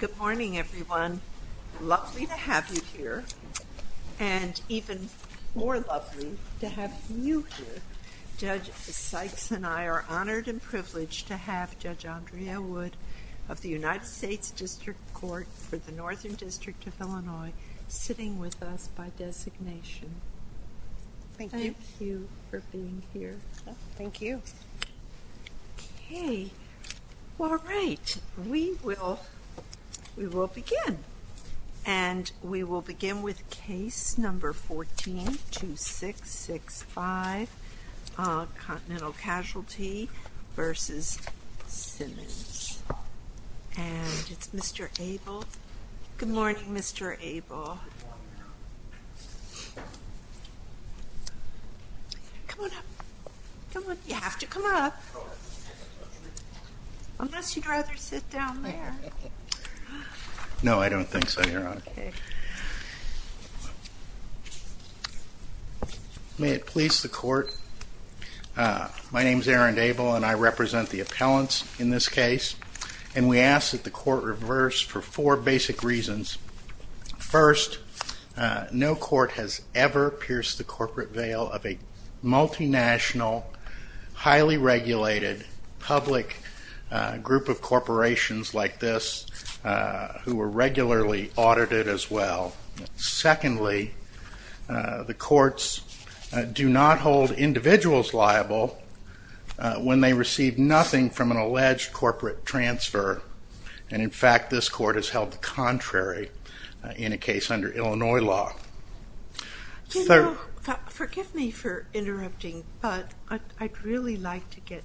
Good morning everyone. Lovely to have you here and even more lovely to have you here. Judge Sykes and I are honored and privileged to have Judge Andrea Wood of the United States District Court for the Northern District of Illinois sitting with us by designation. Thank you for being here. Thank you. Okay all right we will we will begin and we will begin with case number 14-2665 Continental Casualty v. Symons and it's Mr. Abel. Good morning Mr. Abel. Come on up. Come on. You have to come up unless you'd rather sit down there. No I don't think so your honor. May it please the court. My name is Aaron Abel and I represent the appellants in this case and we ask that the court reverse for four basic reasons. First, no court has ever pierced the corporate veil of a multinational highly regulated public group of corporations like this who are regularly audited as well. Secondly, the courts do not hold individuals liable when they receive nothing from an alleged corporate transfer and in fact this court has held the contrary in a case under Illinois law. Forgive me for interrupting but I'd really like to get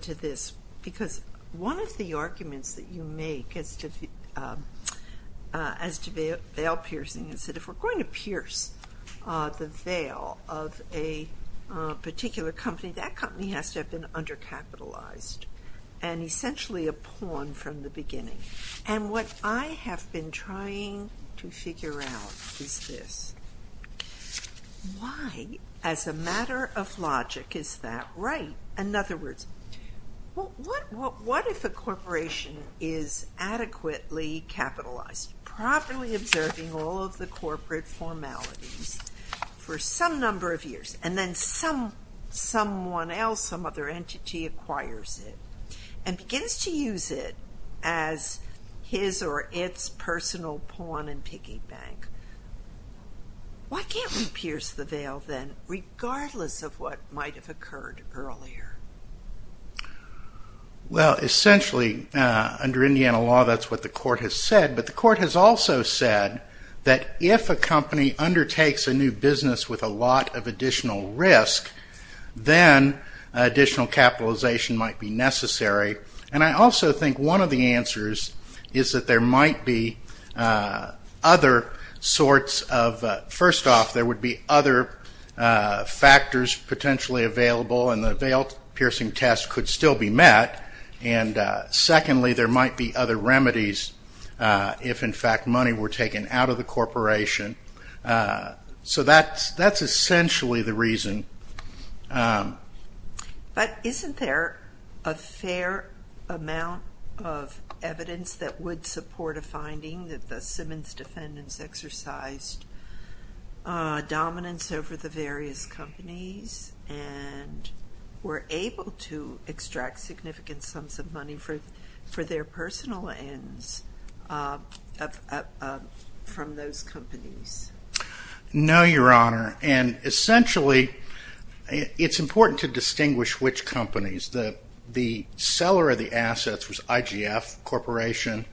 to this because one of the arguments that you make as to veil piercing is that if we're going to pierce the veil of a particular company that company has to have been undercapitalized and essentially a pawn from the beginning and what I have been trying to figure out is this. Why as a matter of logic is that right? In other words, what if a corporation is adequately capitalized properly observing all of the corporate formalities for some number of years and then some someone else some other entity acquires it and begins to use it as his or its personal pawn and piggy bank. Why can't we pierce the veil then regardless of what might have occurred earlier? Well essentially under Indiana law that's what the court has said but the court has also said that if a company undertakes a new business with a lot of additional risk then additional capitalization might be necessary and I also think one of the answers is that there might be other sorts of first off there would be other factors potentially available and the veil piercing test could still be met and secondly there might be other remedies if in fact money were taken out of the corporation so that's essentially the reason. But isn't there a fair amount of evidence that would support a finding that the Simmons were able to extract significant sums of money for their personal ends from those companies? No your honor and essentially it's important to distinguish which companies. The seller of the assets was IGF Corporation.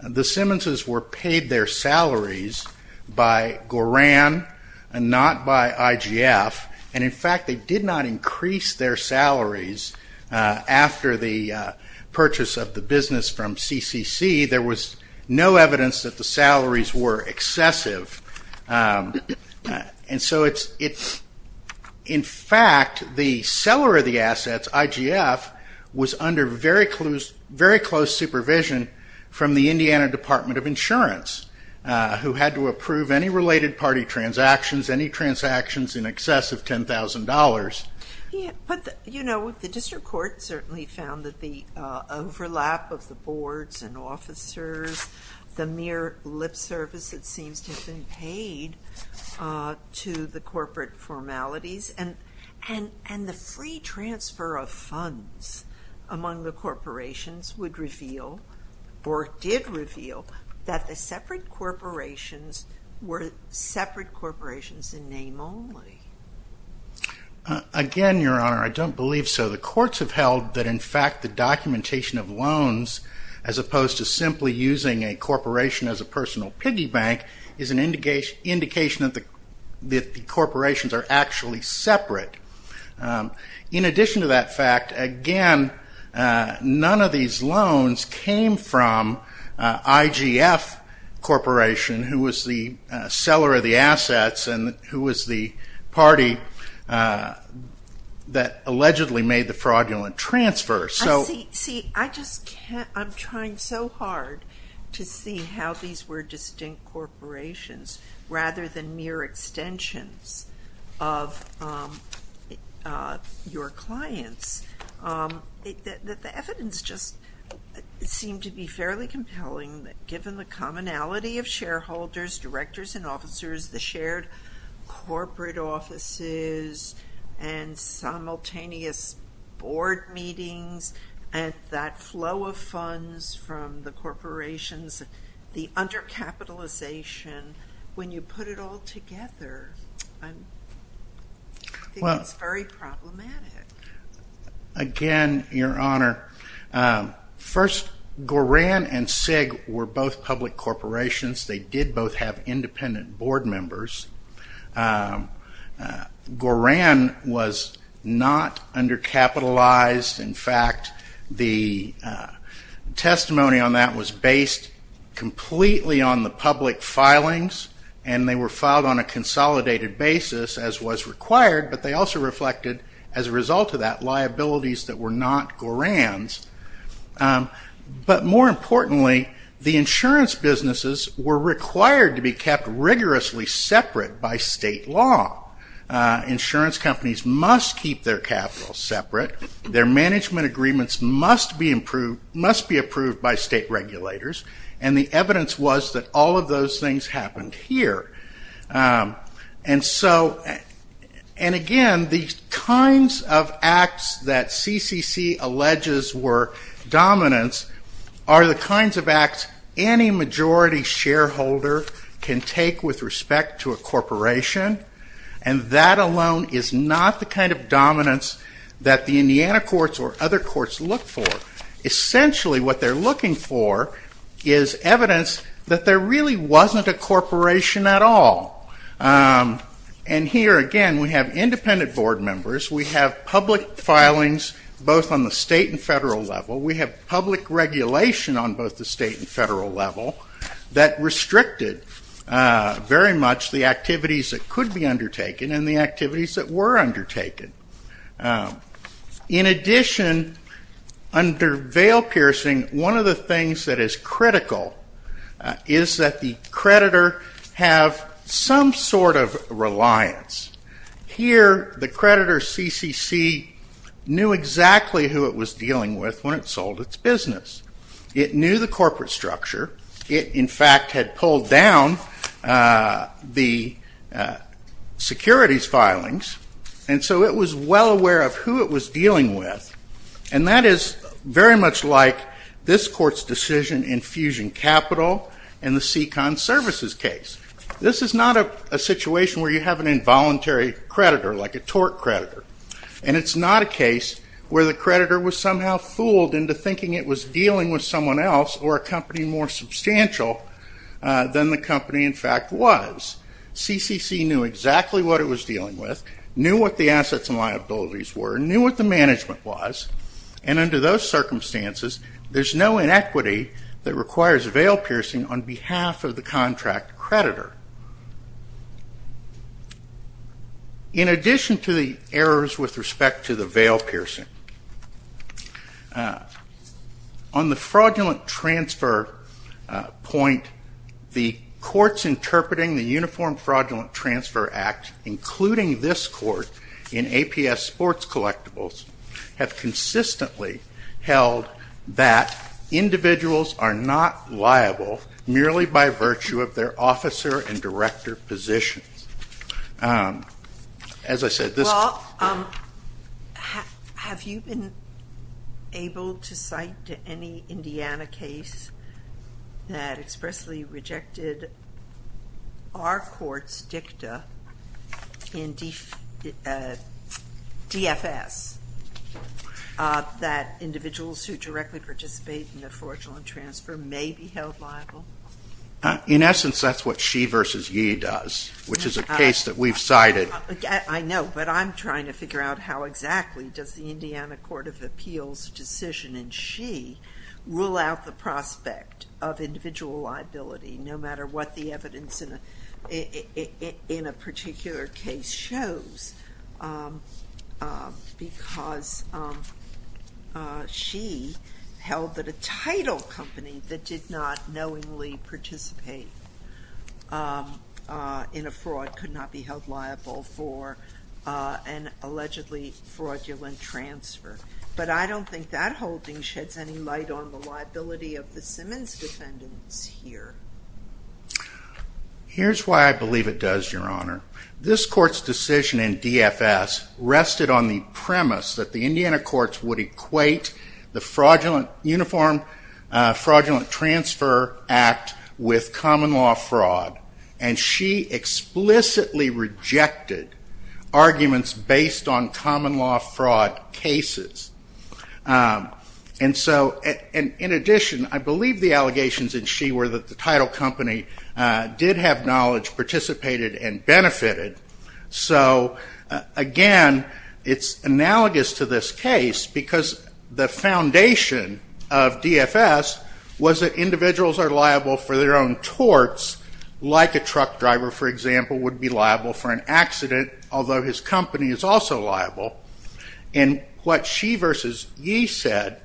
The Simmonses were paid their salaries by Goran and not by IGF and in fact they did not increase their salaries after the purchase of the business from CCC. There was no evidence that the salaries were excessive and so it's in fact the seller of the assets IGF was under very close supervision from the Indiana Department of Insurance who had to approve any related party transactions, any transactions in excess of $10,000. But you know the district court certainly found that the overlap of the boards and officers, the mere lip service that seems to have been paid to the corporate formalities and the free transfer of funds among the corporations would reveal or did reveal that the separate corporations were separate corporations in name only. Again your honor I don't believe so. The courts have held that in fact the documentation of loans as opposed to simply using a corporation as a personal piggy bank is an indication that the corporations are actually separate. In addition to that fact again none of these loans came from IGF Corporation who was the seller of the assets and who was the party that allegedly made the fraudulent transfer. See I just can't, I'm trying so hard to see how these were distinct corporations rather than mere extensions of your clients. The evidence just seemed to be fairly compelling that given the commonality of shareholders, directors and officers, the shared corporate offices and simultaneous board meetings and that flow of funds from the corporations, the undercapitalization, when you put it all together I think it's very problematic. Again your honor, first Goran and Sig were both public corporations. They did both have independent board members. Goran was not undercapitalized. In fact the testimony on that was based completely on the public filings and they were filed on a consolidated basis as was required but they also reflected as a result of that liabilities that were not Goran's. But more importantly the insurance businesses were required to be kept rigorously separate by state law. Insurance companies must keep their capital separate. Their management agreements must be approved by state regulators and the evidence was that all of those things happened here. And again the kinds of acts that CCC alleges were dominance are the kinds of acts any majority shareholder can take with respect to a corporation and that alone is not the kind of dominance that the Indiana courts or other courts look for. Essentially what they're looking for is evidence that there really wasn't a corporation at all. And here again we have independent board members. We have public filings both on the state and federal level. We have public regulation on both the state and federal level that restricted very much the activities that could be undertaken and the activities that were undertaken. In addition under veil piercing one of the things that is critical is that the creditor have some sort of reliance. Here the creditor CCC knew exactly who it was dealing with when it sold its business. It knew the corporate structure. It in fact had pulled down the securities filings and so it was well aware of who it was dealing with and that is very much like this court's decision in Fusion Capital and the Second Services case. This is not a situation where you have an involuntary creditor like a tort creditor and it's not a case where the creditor was somehow fooled into thinking it was dealing with someone else or a company more substantial than the company in fact was. CCC knew exactly what it was dealing with, knew what the assets and liabilities were, knew what the management was and under those circumstances there's no inequity that requires veil piercing on behalf of the contract creditor. In addition to the errors with respect to the veil piercing on the fraudulent transfer point the courts interpreting the Uniform Fraudulent Transfer Act including this court in APS sports collectibles have consistently held that individuals are not liable merely by virtue of their officer and director positions. Well have you been able to cite any Indiana case that expressly rejected our court's dicta in DFS that individuals who directly participate in the fraudulent transfer may be held liable? In essence that's what She vs. Ye does which is a case that we've cited. I know but I'm trying to figure out how exactly does the Indiana Court of Appeals decision in She rule out the prospect of individual liability no matter what the evidence in a particular case shows because She held that a title company that did not knowingly participate in a fraud could not be held liable for an allegedly fraudulent transfer but I don't think that holding sheds any light on the liability of the Simmons defendants here. Here's why I believe it does your honor. This court's decision in DFS rested on the premise that the Indiana courts would equate the fraudulent uniform fraudulent transfer act with common law fraud and She explicitly rejected arguments based on common law fraud cases. And so in addition I believe the allegations in She were that the title company did have knowledge participated and benefited so again it's analogous to this case because the foundation of DFS was that individuals are liable for their own torts like a truck driver for example would be liable for an accident although his company is also liable and what She versus Ye said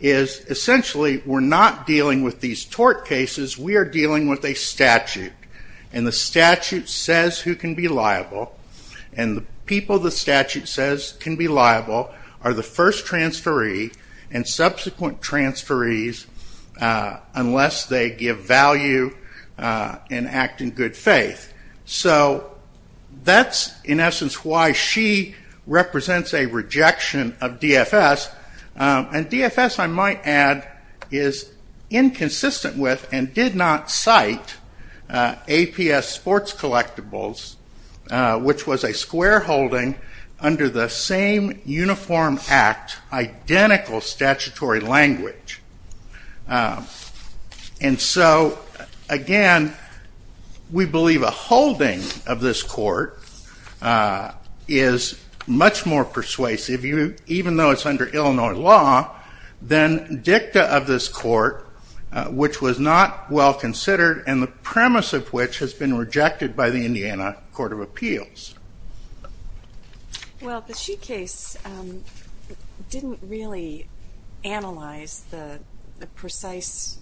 is essentially we're not dealing with these tort cases we are dealing with a statute and the statute says who can be liable and the people the statute says can be liable are the first transferee and subsequent transferees unless they give value and act in DFS and DFS I might add is inconsistent with and did not cite APS sports collectibles which was a square holding under the same uniform act identical statutory language and so again we believe a holding of this court is much more persuasive you even though it's under Illinois law then dicta of this court which was not well considered and the premise of which has been rejected by the Indiana court of appeals. Well the She case didn't really analyze the precise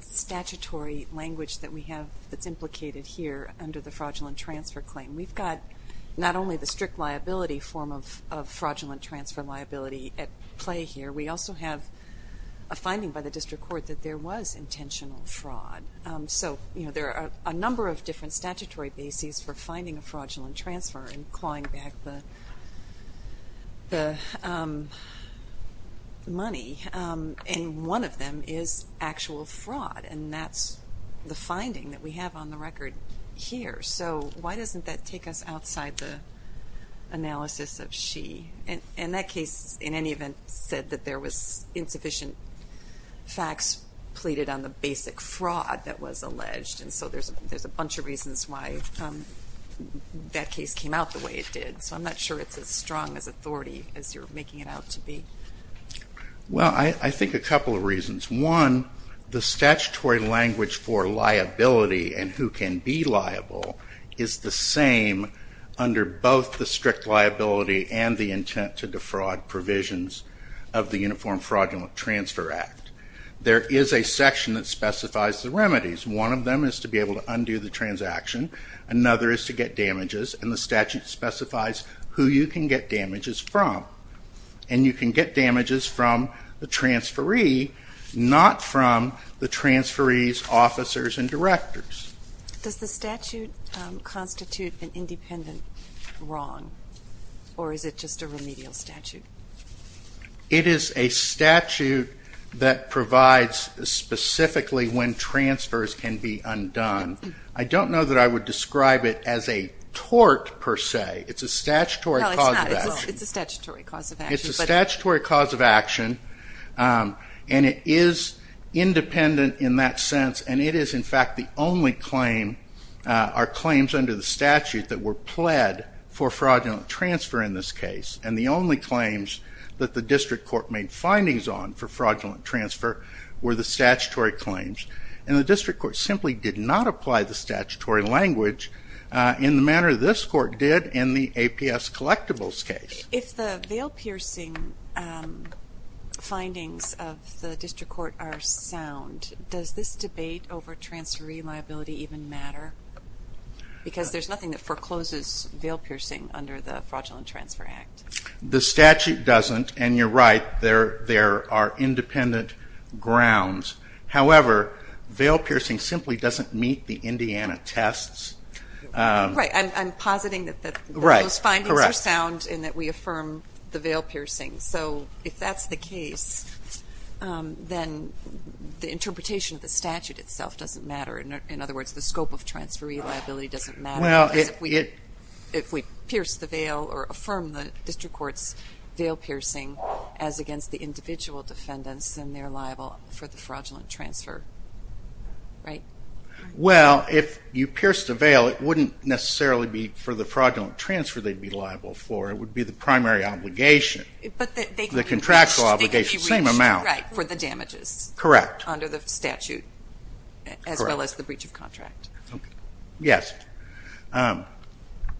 statutory language that we have that's implicated here under the fraudulent transfer claim. We've got not only the strict liability form of fraudulent transfer liability at play here we also have a finding by the district court that there was intentional fraud so you know there are a number of different statutory bases for finding a fraudulent transfer and clawing back the money and one of them is actual fraud and that's the finding that we have on the record here so why doesn't that take us outside the analysis of She and that case in any event said that there was insufficient facts pleaded on the basic fraud that was alleged so there's a bunch of reasons why that case came out the way it did so I'm not sure it's as strong as authority as you're making it out to be. Well I think a couple of reasons one the statutory language for liability and who can be liable is the same under both the strict liability and the intent to defraud provisions of the uniform fraudulent transfer act there is a section that is to be able to undo the transaction another is to get damages and the statute specifies who you can get damages from and you can get damages from the transferee not from the transferees officers and directors. Does the statute constitute an independent wrong or is it just a remedial statute? It is a statute that provides specifically when transfers can be undone. I don't know that I would describe it as a tort per se it's a statutory cause of action. It's a statutory cause of action and it is independent in that sense and it is in fact the only claim are claims under the statute that were pled for fraudulent transfer in this case and the only claims that the district court made findings on for fraudulent transfer were the statutory claims and the district court simply did not apply the statutory language in the manner this court did in the APS collectibles case. If the veil piercing findings of the district court are sound does this debate over transferee liability even matter? Because there is nothing that forecloses veil piercing under the fraudulent transfer act. The statute doesn't and you are right there are independent grounds however veil piercing simply doesn't meet the Indiana tests. I am positing that those findings are sound and that we affirm the veil piercing so if that is the case then the interpretation of the statute itself doesn't matter. In other words the scope of transferee liability doesn't matter. If we pierce the veil or affirm the district court's veil piercing as against the individual defendants then they are liable for the fraudulent transfer. Right? Well if you pierce the veil it wouldn't necessarily be for the fraudulent transfer they would be liable for. It would be the primary obligation. The contractual obligation same amount. For the damages. Correct. Under the statute as well as the breach of contract. Yes.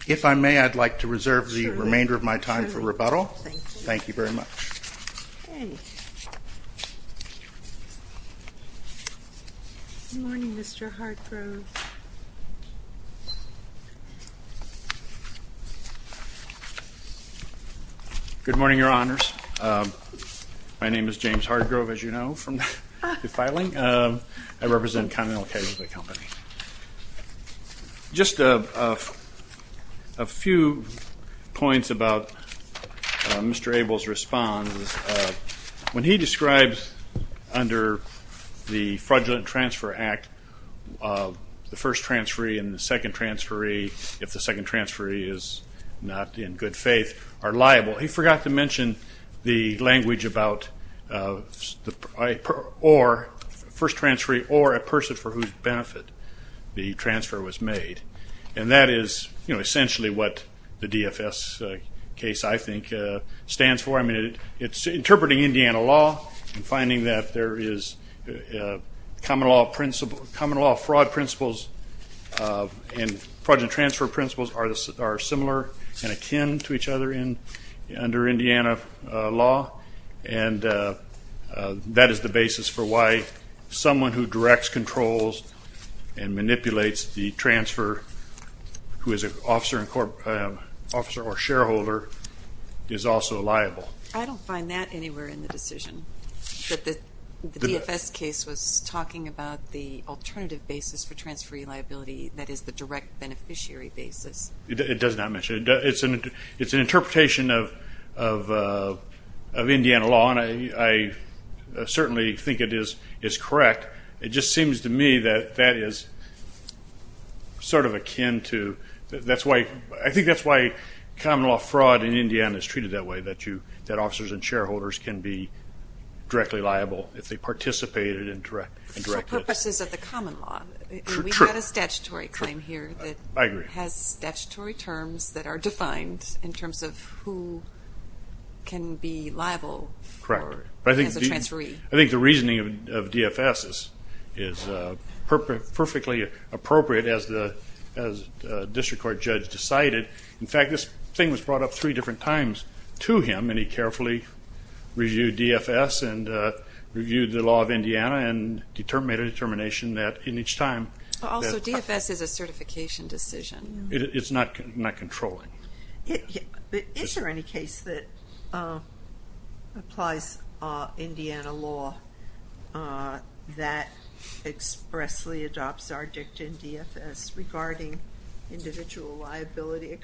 If I may I would like to reserve the remainder of my time for rebuttal. Thank you very much. Good morning Mr. Hargrove. Good morning your honors. My name is James Hargrove as you know from the filing. I represent Connell Kayser the company. Just a few points about Mr. Abel's response. When he describes under the fraudulent transfer act the first transferee and the second transferee if the second transferee is not in good faith are liable. He forgot to mention the language about the first transferee or a person for whose benefit the transfer was made. And that is essentially what the DFS case I think stands for. It's interpreting Indiana law and finding that there is common law principle common law fraud principles and fraudulent transfer principles are similar and akin to each other in under Indiana law and that is the basis for why someone who directs controls and manipulates the transfer who is an officer or shareholder is also liable. I don't find that anywhere in the decision that the DFS case was talking about the alternative basis for transferee liability that is the direct beneficiary basis. It does not mention it. It's an interpretation of I think that is why common law fraud in Indiana is treated that way that officers and shareholders can be directly liable if they participated in direct. So purposes of the common law. We have a statutory claim here that has statutory terms that are defined in terms of who can be liable as a transferee. I think the reasoning of DFS is perfectly appropriate as the district court judge decided. In fact this thing was brought up three different times to him and he carefully reviewed DFS and reviewed the law of Indiana and made a determination that in each time. Also DFS is a certification decision. It's not controlling. Is there any case that applies Indiana law that expressly adopts our dictant DFS regarding individual liability?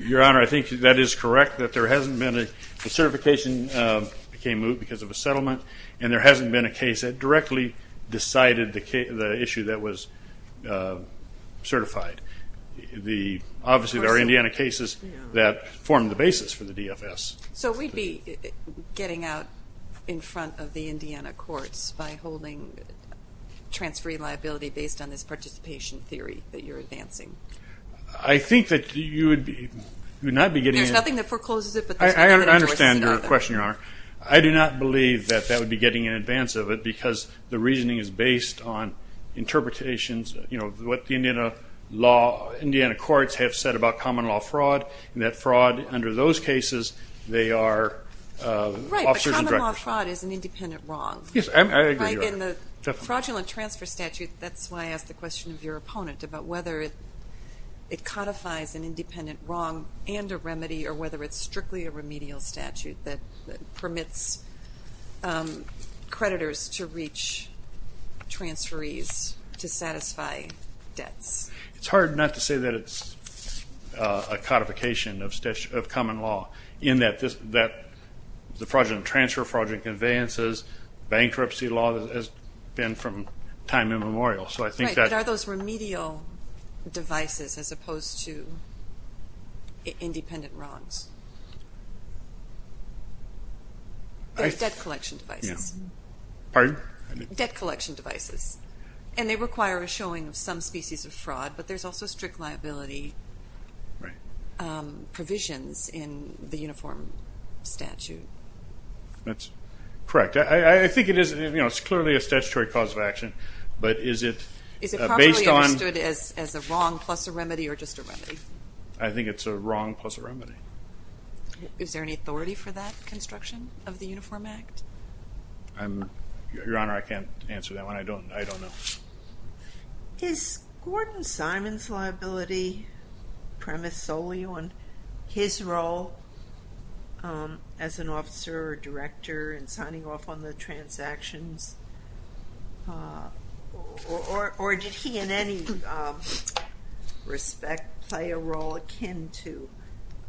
Your honor I think that is correct that there hasn't been a certification because of a settlement and there hasn't been a case that directly decided the issue that was certified. Obviously there are Indiana cases that form the basis for the DFS. So we would be getting out in front of the Indiana courts by holding transferee liability based on this participation theory that you are advancing? I think that you would not be getting. There is nothing that forecloses it? I understand your question your honor. I do not believe that that would be getting in advance of it because the reasoning is based on interpretations of what the Indiana courts have said about common law fraud and that fraud under those cases they are officers and directors. Fraud is an independent wrong. In the fraudulent transfer statute that is why I asked the question of your opponent about whether it codifies an independent wrong and a remedy or whether it is strictly a remedial statute that permits creditors to reach transferees to satisfy debts. It is hard not to say that it is a codification of common law in that the fraudulent transfer, fraudulent conveyances, bankruptcy law has been from time immemorial. Are those remedial devices as opposed to independent wrongs? They are debt collection devices and they require a showing of some species of fraud but there is also strict liability provisions in the uniform statute. That is correct. I think it is clearly a statutory cause of action but is it based on... Is it properly understood as a wrong plus a remedy or just a remedy? I think it is a wrong plus a remedy. Is there any authority for that construction of the Uniform Act? Your honor I cannot answer that one. I do not know. Is Gordon Simon's liability premise solely on his role as an officer or director in signing off on the transactions or did he in any respect play a role akin to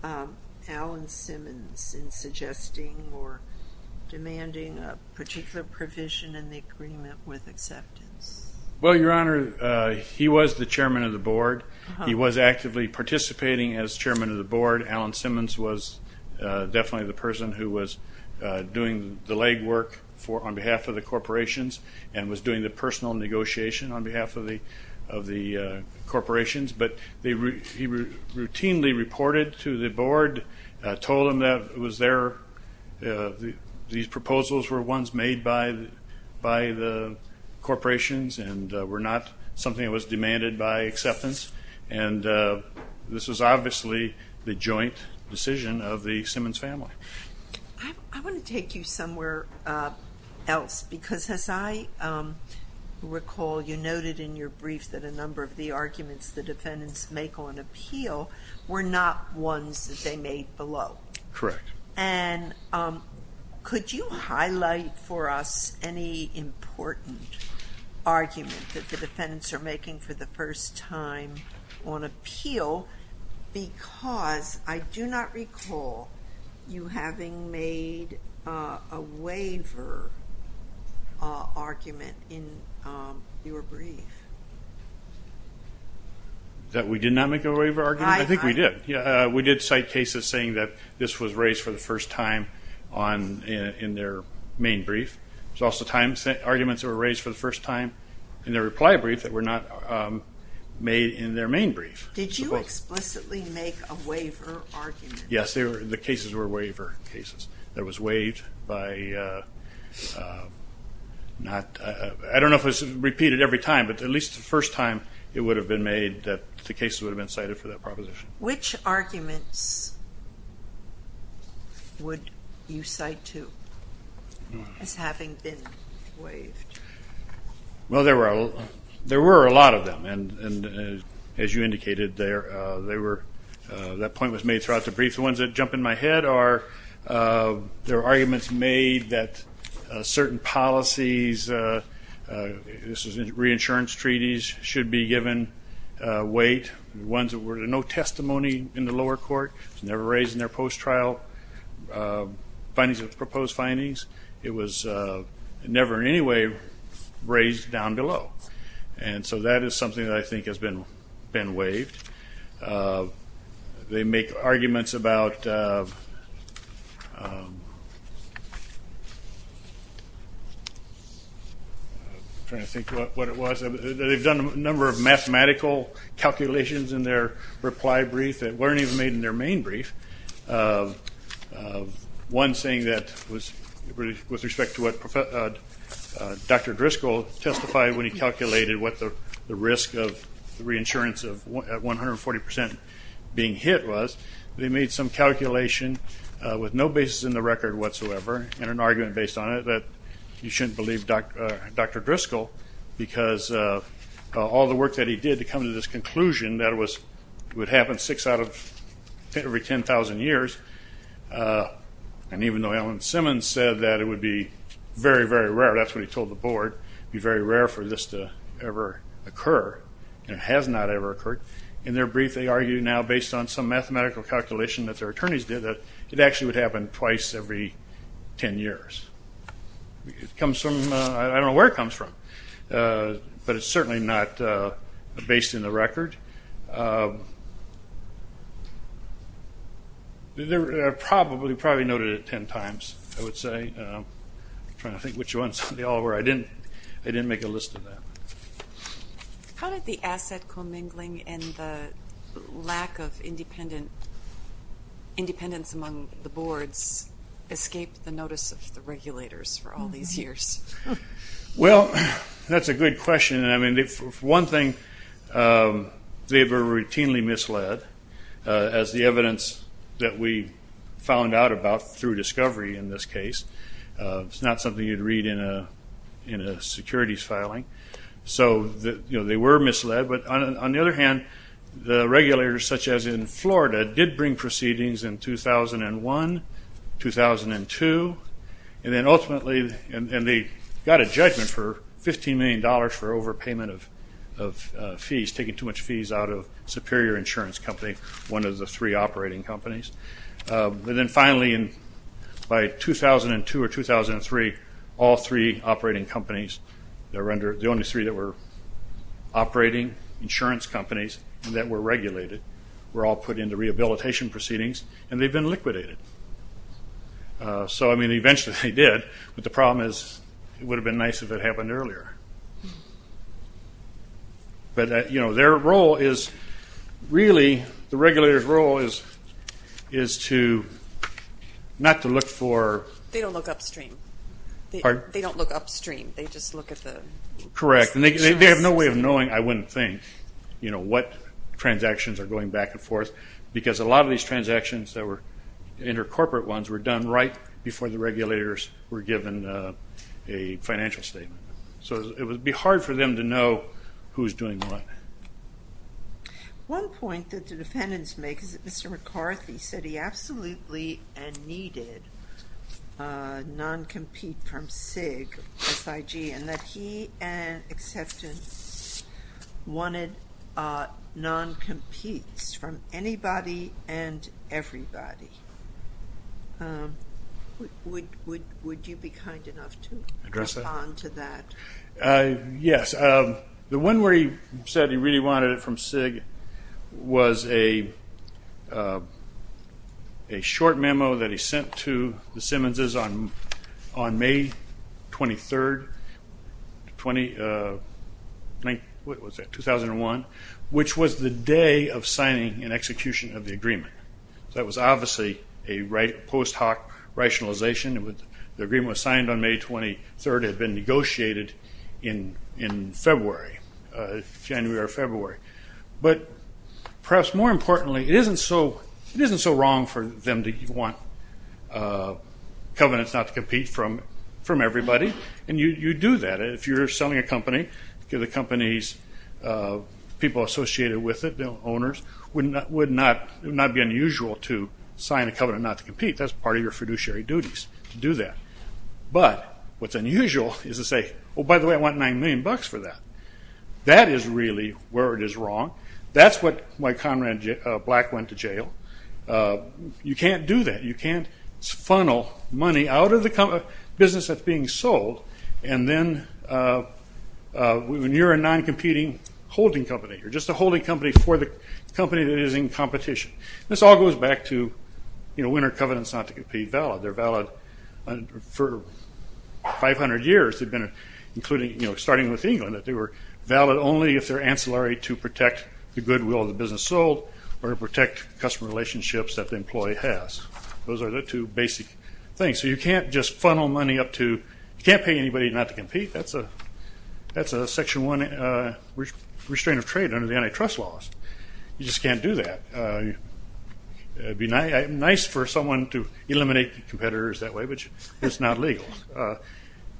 Alan Simmons in suggesting or demanding a particular provision in the agreement with acceptance? Well, your honor, he was the chairman of the board. He was actively participating as chairman of the board. Alan Simmons was definitely the person who was doing the legwork on behalf of the corporations and was doing the personal negotiation on behalf of the corporations. He routinely reported to the board, told them that these proposals were ones made by the corporations and were not something that was demanded by acceptance. This was obviously the joint decision of the Simmons family. I want to take you somewhere else because as I recall you noted in your brief that a number of the arguments the defendants make on appeal were not ones that they made below. Correct. And could you highlight for us any important argument that the defendants are making for the first time on appeal because I do not recall you having made a waiver argument in your brief. That we did not make a waiver argument? I think we did. We did cite cases saying that this was raised for the first time in their main brief. There was also arguments that were raised for the first time in their reply brief that were not made in their main brief. Did you explicitly make a waiver argument? Yes, the cases were waiver cases that was waived. I do not know if it was repeated every time but at least the first time it would have been made that the cases would have been cited for that proposition. Which arguments would you cite as having been waived? Well there were a lot of them and as you indicated that point was made throughout the brief. The ones that jump in my head are the arguments made that certain policies, reinsurance treaties should be given weight. The ones that were no testimony in the lower court, never raised in their post-trial findings of proposed findings, it was never in any way raised down below. And so that is something that I think has been waived. They make arguments about, I am trying to think what it was, they have done a number of mathematical calculations in their reply brief that were not even made in their main brief. One saying that was with respect to what Dr. Driscoll testified when he calculated what the risk of reinsurance of 140% being hit was, they made some calculation with no basis in the record whatsoever and an argument based on it that you should not believe Dr. Driscoll because all the work that he did to come to this conclusion that would happen six out of every 10,000 cases, six out of every 10,000 years and even though Alan Simmons said that it would be very, very rare, that is what he told the board, it would be very rare for this to ever occur and it has not ever occurred. In their brief they argue now based on some mathematical calculation that their attorneys did that it actually would happen twice every 10 years. I don't know where it comes from, but it is certainly not based in the record. They probably noted it 10 times, I would say. I am trying to think which ones, they all didn't make a list of that. How did the asset commingling and the lack of independence among the boards escape the notice of the regulators for all these years? Well, that is a good question. For one thing, they were routinely misled as the evidence that we found out about through discovery in this case. It is not something you would read in a securities filing. They were misled, but on the other hand, the regulators such as in Florida did bring proceedings in 2001, 2002 and they got a judgment for $15 million for overpayment of fees, taking too much fees out of Superior Insurance Company, one of the three operating companies. Then finally, by 2002 or 2003, all three operating companies, the only three that were operating insurance companies that were regulated, were all put into rehabilitation proceedings and they have been liquidated. So, I mean, eventually they did, but the problem is it would have been nice if it happened earlier. But, you know, their role is really, the regulators' role is to not to look for... They don't look upstream. Pardon? They don't look upstream. They just look at the... were done right before the regulators were given a financial statement. So it would be hard for them to know who is doing what. One point that the defendants make is that Mr. McCarthy said he absolutely needed non-compete from SIG, S-I-G, and that he and acceptance wanted non-competes from anybody and everybody. Would you be kind enough to respond to that? Yes. The one where he said he really wanted it from SIG was a short memo that he sent to the Simmonses on May 23, 2001, which was the day of signing and execution of the agreement. That was obviously a post hoc rationalization. The agreement was signed on May 23rd. It had been negotiated in February, January or February. But perhaps more importantly, it isn't so wrong for them to want covenants not to compete from everybody, and you do that. If you're selling a company to the company's people associated with it, the owners, it would not be unusual to sign a covenant not to compete. That's part of your fiduciary duties to do that. But what's unusual is to say, oh, by the way, I want nine million bucks for that. That is really where it is wrong. That's why Conrad Black went to jail. You can't do that. You can't funnel money out of the business that's being sold, and then when you're a non-competing holding company, you're just a holding company for the company that is in competition. This all goes back to, you know, when are covenants not to compete valid? They're valid for 500 years, including, you know, starting with England. They were valid only if they're ancillary to protect the goodwill of the business sold or to protect customer relationships that the employee has. Those are the two basic things. So you can't just funnel money up to, you can't pay anybody not to compete. That's a section one restraint of trade under the antitrust laws. You just can't do that. It would be nice for someone to eliminate the competitors that way, but it's not legal.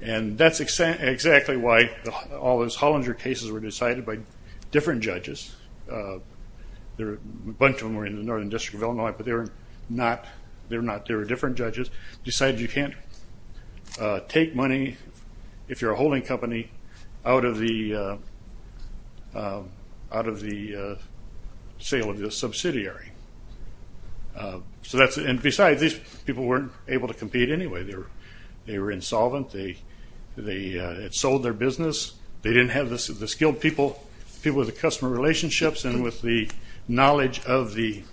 And that's exactly why all those Hollinger cases were decided by different judges. A bunch of them were in the Northern District of Illinois, but they were not. They were different judges. Decided you can't take money, if you're a holding company, out of the sale of the subsidiary. And besides, these people weren't able to compete anyway. They were insolvent. It sold their business. They didn't have the skilled people, people with the customer relationships, and with the knowledge of the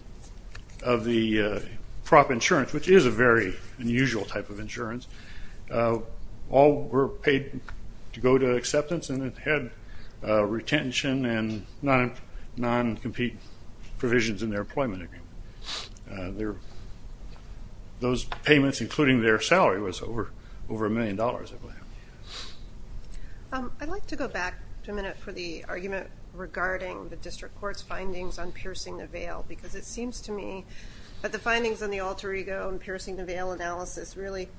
prop insurance, which is a very unusual type of insurance, all were paid to go to acceptance, and it had retention and non-compete provisions in their employment agreement. Those payments, including their salary, was over a million dollars. I'd like to go back to a minute for the argument regarding the District Court's findings on piercing the veil, because it seems to me that the findings on the alter ego and piercing the veil analysis really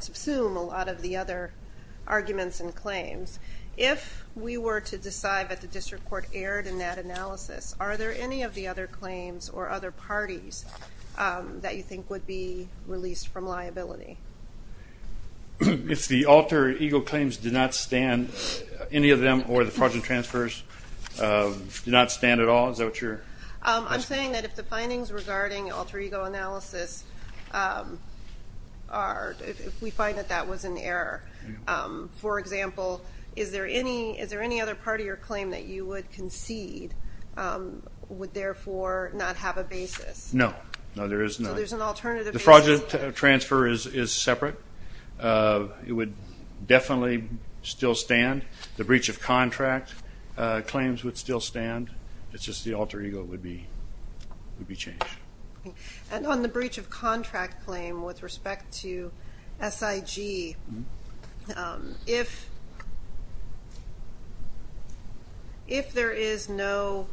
subsume a lot of the other arguments and claims. If we were to decide that the District Court erred in that analysis, are there any of the other claims or other parties that you think would be released from liability? If the alter ego claims did not stand, any of them, or the fraudulent transfers did not stand at all? Is that what you're asking? I'm saying that if the findings regarding alter ego analysis are, if we find that that was an error, for example, is there any other party or claim that you would concede would therefore not have a basis? No. So there's an alternative basis? The fraudulent transfer is separate. It would definitely still stand. The breach of contract claims would still stand. It's just the alter ego would be changed. And on the breach of contract claim with respect to SIG, if there is no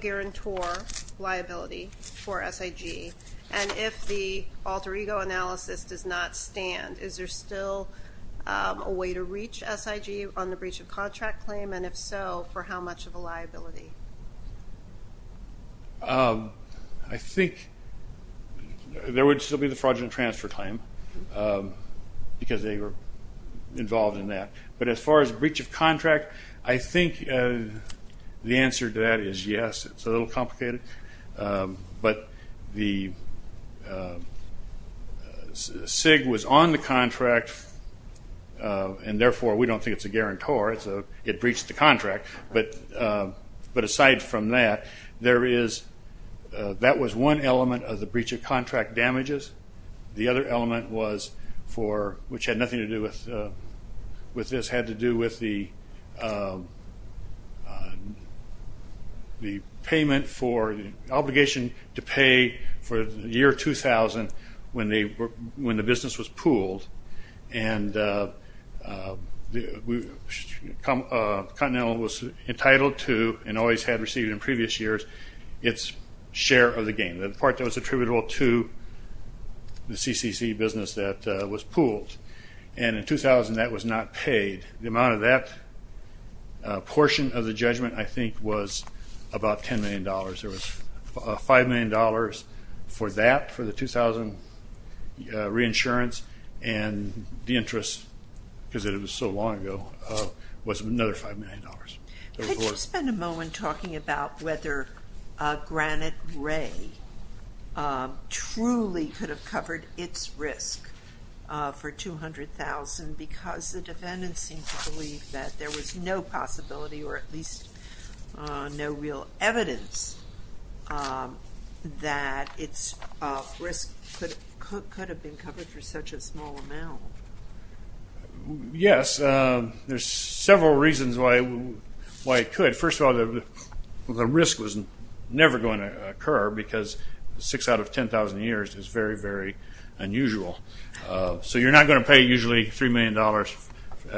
guarantor liability for SIG and if the alter ego analysis does not stand, is there still a way to reach SIG on the breach of contract claim? And if so, for how much of a liability? I think there would still be the fraudulent transfer claim because they were involved in that. But as far as breach of contract, I think the answer to that is yes. It's a little complicated. But the SIG was on the contract, and therefore we don't think it's a guarantor. It breached the contract. But aside from that, that was one element of the breach of contract damages. The other element, which had nothing to do with this, had to do with the payment for the obligation to pay for the year 2000 when the business was pooled. And Continental was entitled to and always had received in previous years its share of the gain. The part that was attributable to the CCC business that was pooled. And in 2000 that was not paid. The amount of that portion of the judgment, I think, was about $10 million. There was $5 million for that, for the 2000 reinsurance, and the interest, because it was so long ago, was another $5 million. Could you spend a moment talking about whether Granite Ray truly could have covered its risk for $200,000 because the defendants seem to believe that there was no possibility, or at least no real evidence that its risk could have been covered for such a small amount? Yes. There's several reasons why it could. First of all, the risk was never going to occur because six out of 10,000 years is very, very unusual. So you're not going to pay usually $3 million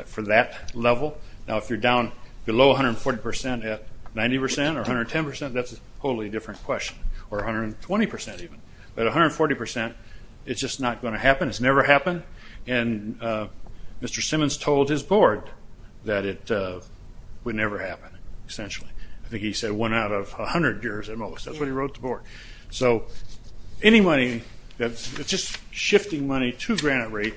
for that level. Now, if you're down below 140% at 90% or 110%, that's a totally different question, or 120% even. But 140%, it's just not going to happen. It's never happened, and Mr. Simmons told his board that it would never happen, essentially. I think he said one out of 100 years at most. That's what he wrote to the board. So any money that's just shifting money to Granite Ray,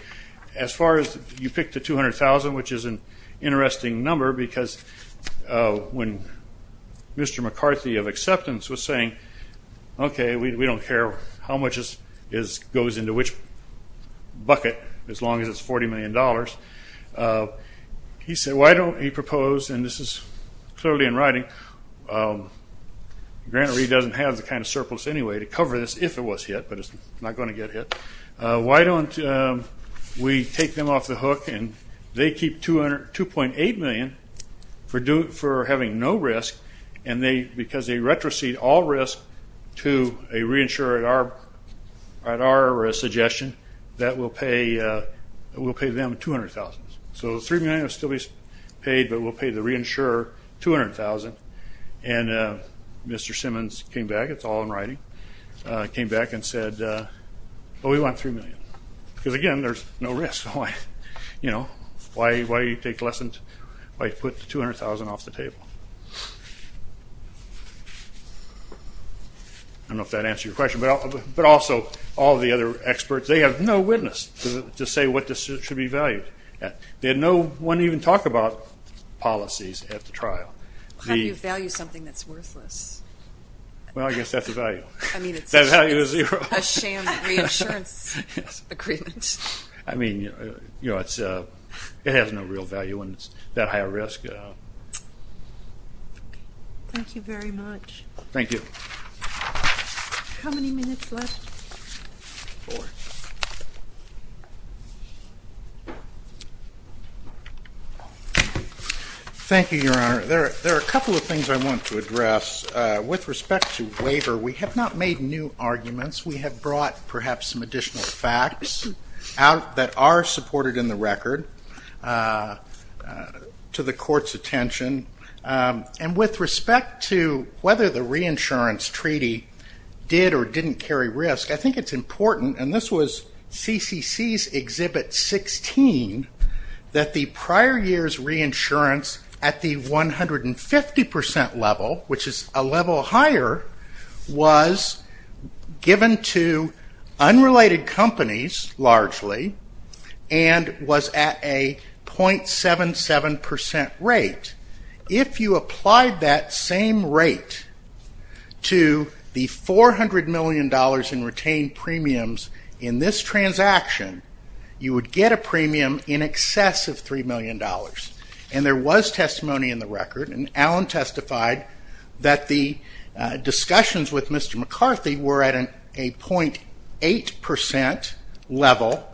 as far as you pick the $200,000, which is an interesting number because when Mr. McCarthy of acceptance was saying, okay, we don't care how much goes into which bucket as long as it's $40 million, he proposed, and this is clearly in writing, Granite Ray doesn't have the kind of surplus anyway to cover this if it was hit, but it's not going to get hit. Why don't we take them off the hook, and they keep $2.8 million for having no risk, and because they retrocede all risk to a reinsurer at our suggestion that we'll pay them $200,000. So $3 million will still be paid, but we'll pay the reinsurer $200,000. And Mr. Simmons came back. It's all in writing. He came back and said, well, we want $3 million because, again, there's no risk. Why put $200,000 off the table? I don't know if that answers your question, but also all the other experts, they have no witness to say what this should be valued at. They had no one even talk about policies at the trial. How do you value something that's worthless? Well, I guess that's a value. That value is zero. A sham reinsurance agreement. I mean, it has no real value when it's that high a risk. Thank you very much. Thank you. How many minutes left? Four. Thank you, Your Honor. There are a couple of things I want to address. With respect to waiver, we have not made new arguments. We have brought perhaps some additional facts out that are supported in the record to the court's attention. And with respect to whether the reinsurance treaty did or didn't carry risk, I think it's important, and this was CCC's Exhibit 16, that the prior year's reinsurance at the 150% level, which is a level higher, was given to unrelated companies largely and was at a .77% rate. If you applied that same rate to the $400 million in retained premiums in this transaction, you would get a premium in excess of $3 million. And there was testimony in the record, and Alan testified that the discussions with Mr. McCarthy were at a .8% level,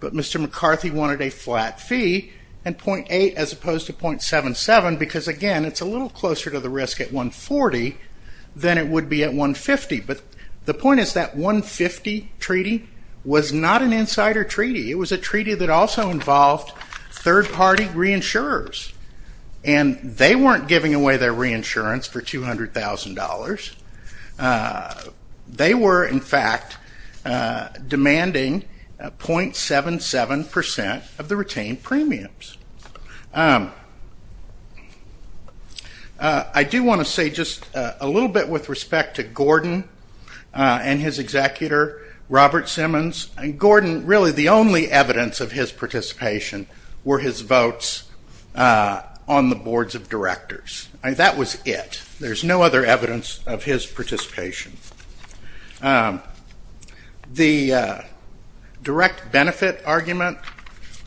but Mr. McCarthy wanted a flat fee and .8 as opposed to .77 because, again, it's a little closer to the risk at 140 than it would be at 150. But the point is that 150 treaty was not an insider treaty. It was a treaty that also involved third-party reinsurers, and they weren't giving away their reinsurance for $200,000. They were, in fact, demanding .77% of the retained premiums. I do want to say just a little bit with respect to Gordon and his executor, Robert Simmons. Gordon, really the only evidence of his participation were his votes on the boards of directors. That was it. There's no other evidence of his participation. The direct benefit argument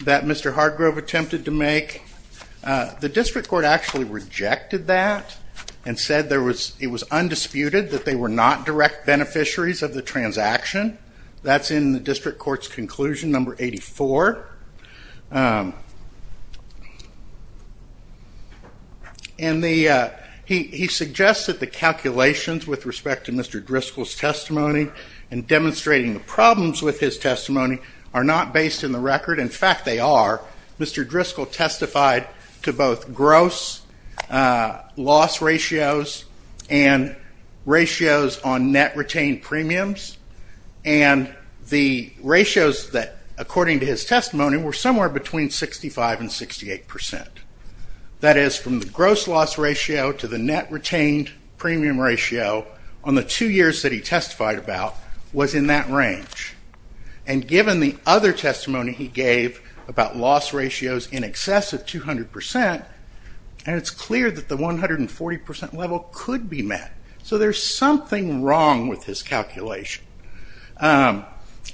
that Mr. Hargrove attempted to make, the district court actually rejected that and said it was undisputed that they were not direct beneficiaries of the transaction. That's in the district court's conclusion, number 84. And he suggested the calculations with respect to Mr. Driscoll's testimony and demonstrating the problems with his testimony are not based in the record. In fact, they are. Mr. Driscoll testified to both gross loss ratios and ratios on net retained premiums, and the ratios that, according to his testimony, were somewhere between 65 and 68%. That is, from the gross loss ratio to the net retained premium ratio on the two years that he testified about was in that range. And given the other testimony he gave about loss ratios in excess of 200%, it's clear that the 140% level could be met. So there's something wrong with his calculation. And,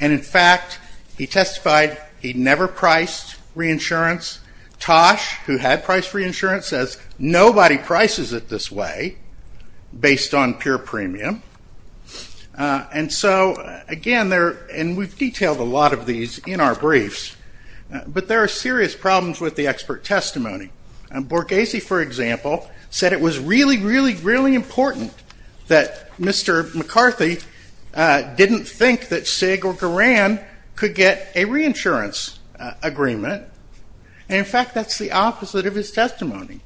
in fact, he testified he never priced reinsurance. Tosh, who had priced reinsurance, says nobody prices it this way based on pure premium. And so, again, we've detailed a lot of these in our briefs, but there are serious problems with the expert testimony. Borghese, for example, said it was really, really, really important that Mr. McCarthy didn't think that SIG or Garan could get a reinsurance agreement. And, in fact, that's the opposite of his testimony.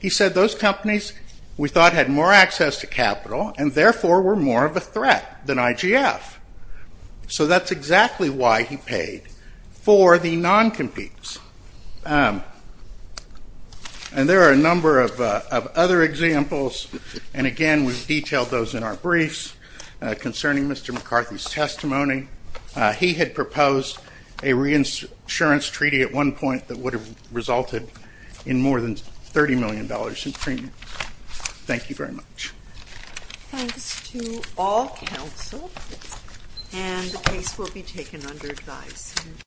He said those companies we thought had more access to capital and, therefore, were more of a threat than IGF. So that's exactly why he paid for the non-competes. And there are a number of other examples, and, again, we've detailed those in our briefs concerning Mr. McCarthy's testimony. He had proposed a reinsurance treaty at one point that would have resulted in more than $30 million in premiums. Thank you very much. Thanks to all counsel. And the case will be taken under advice.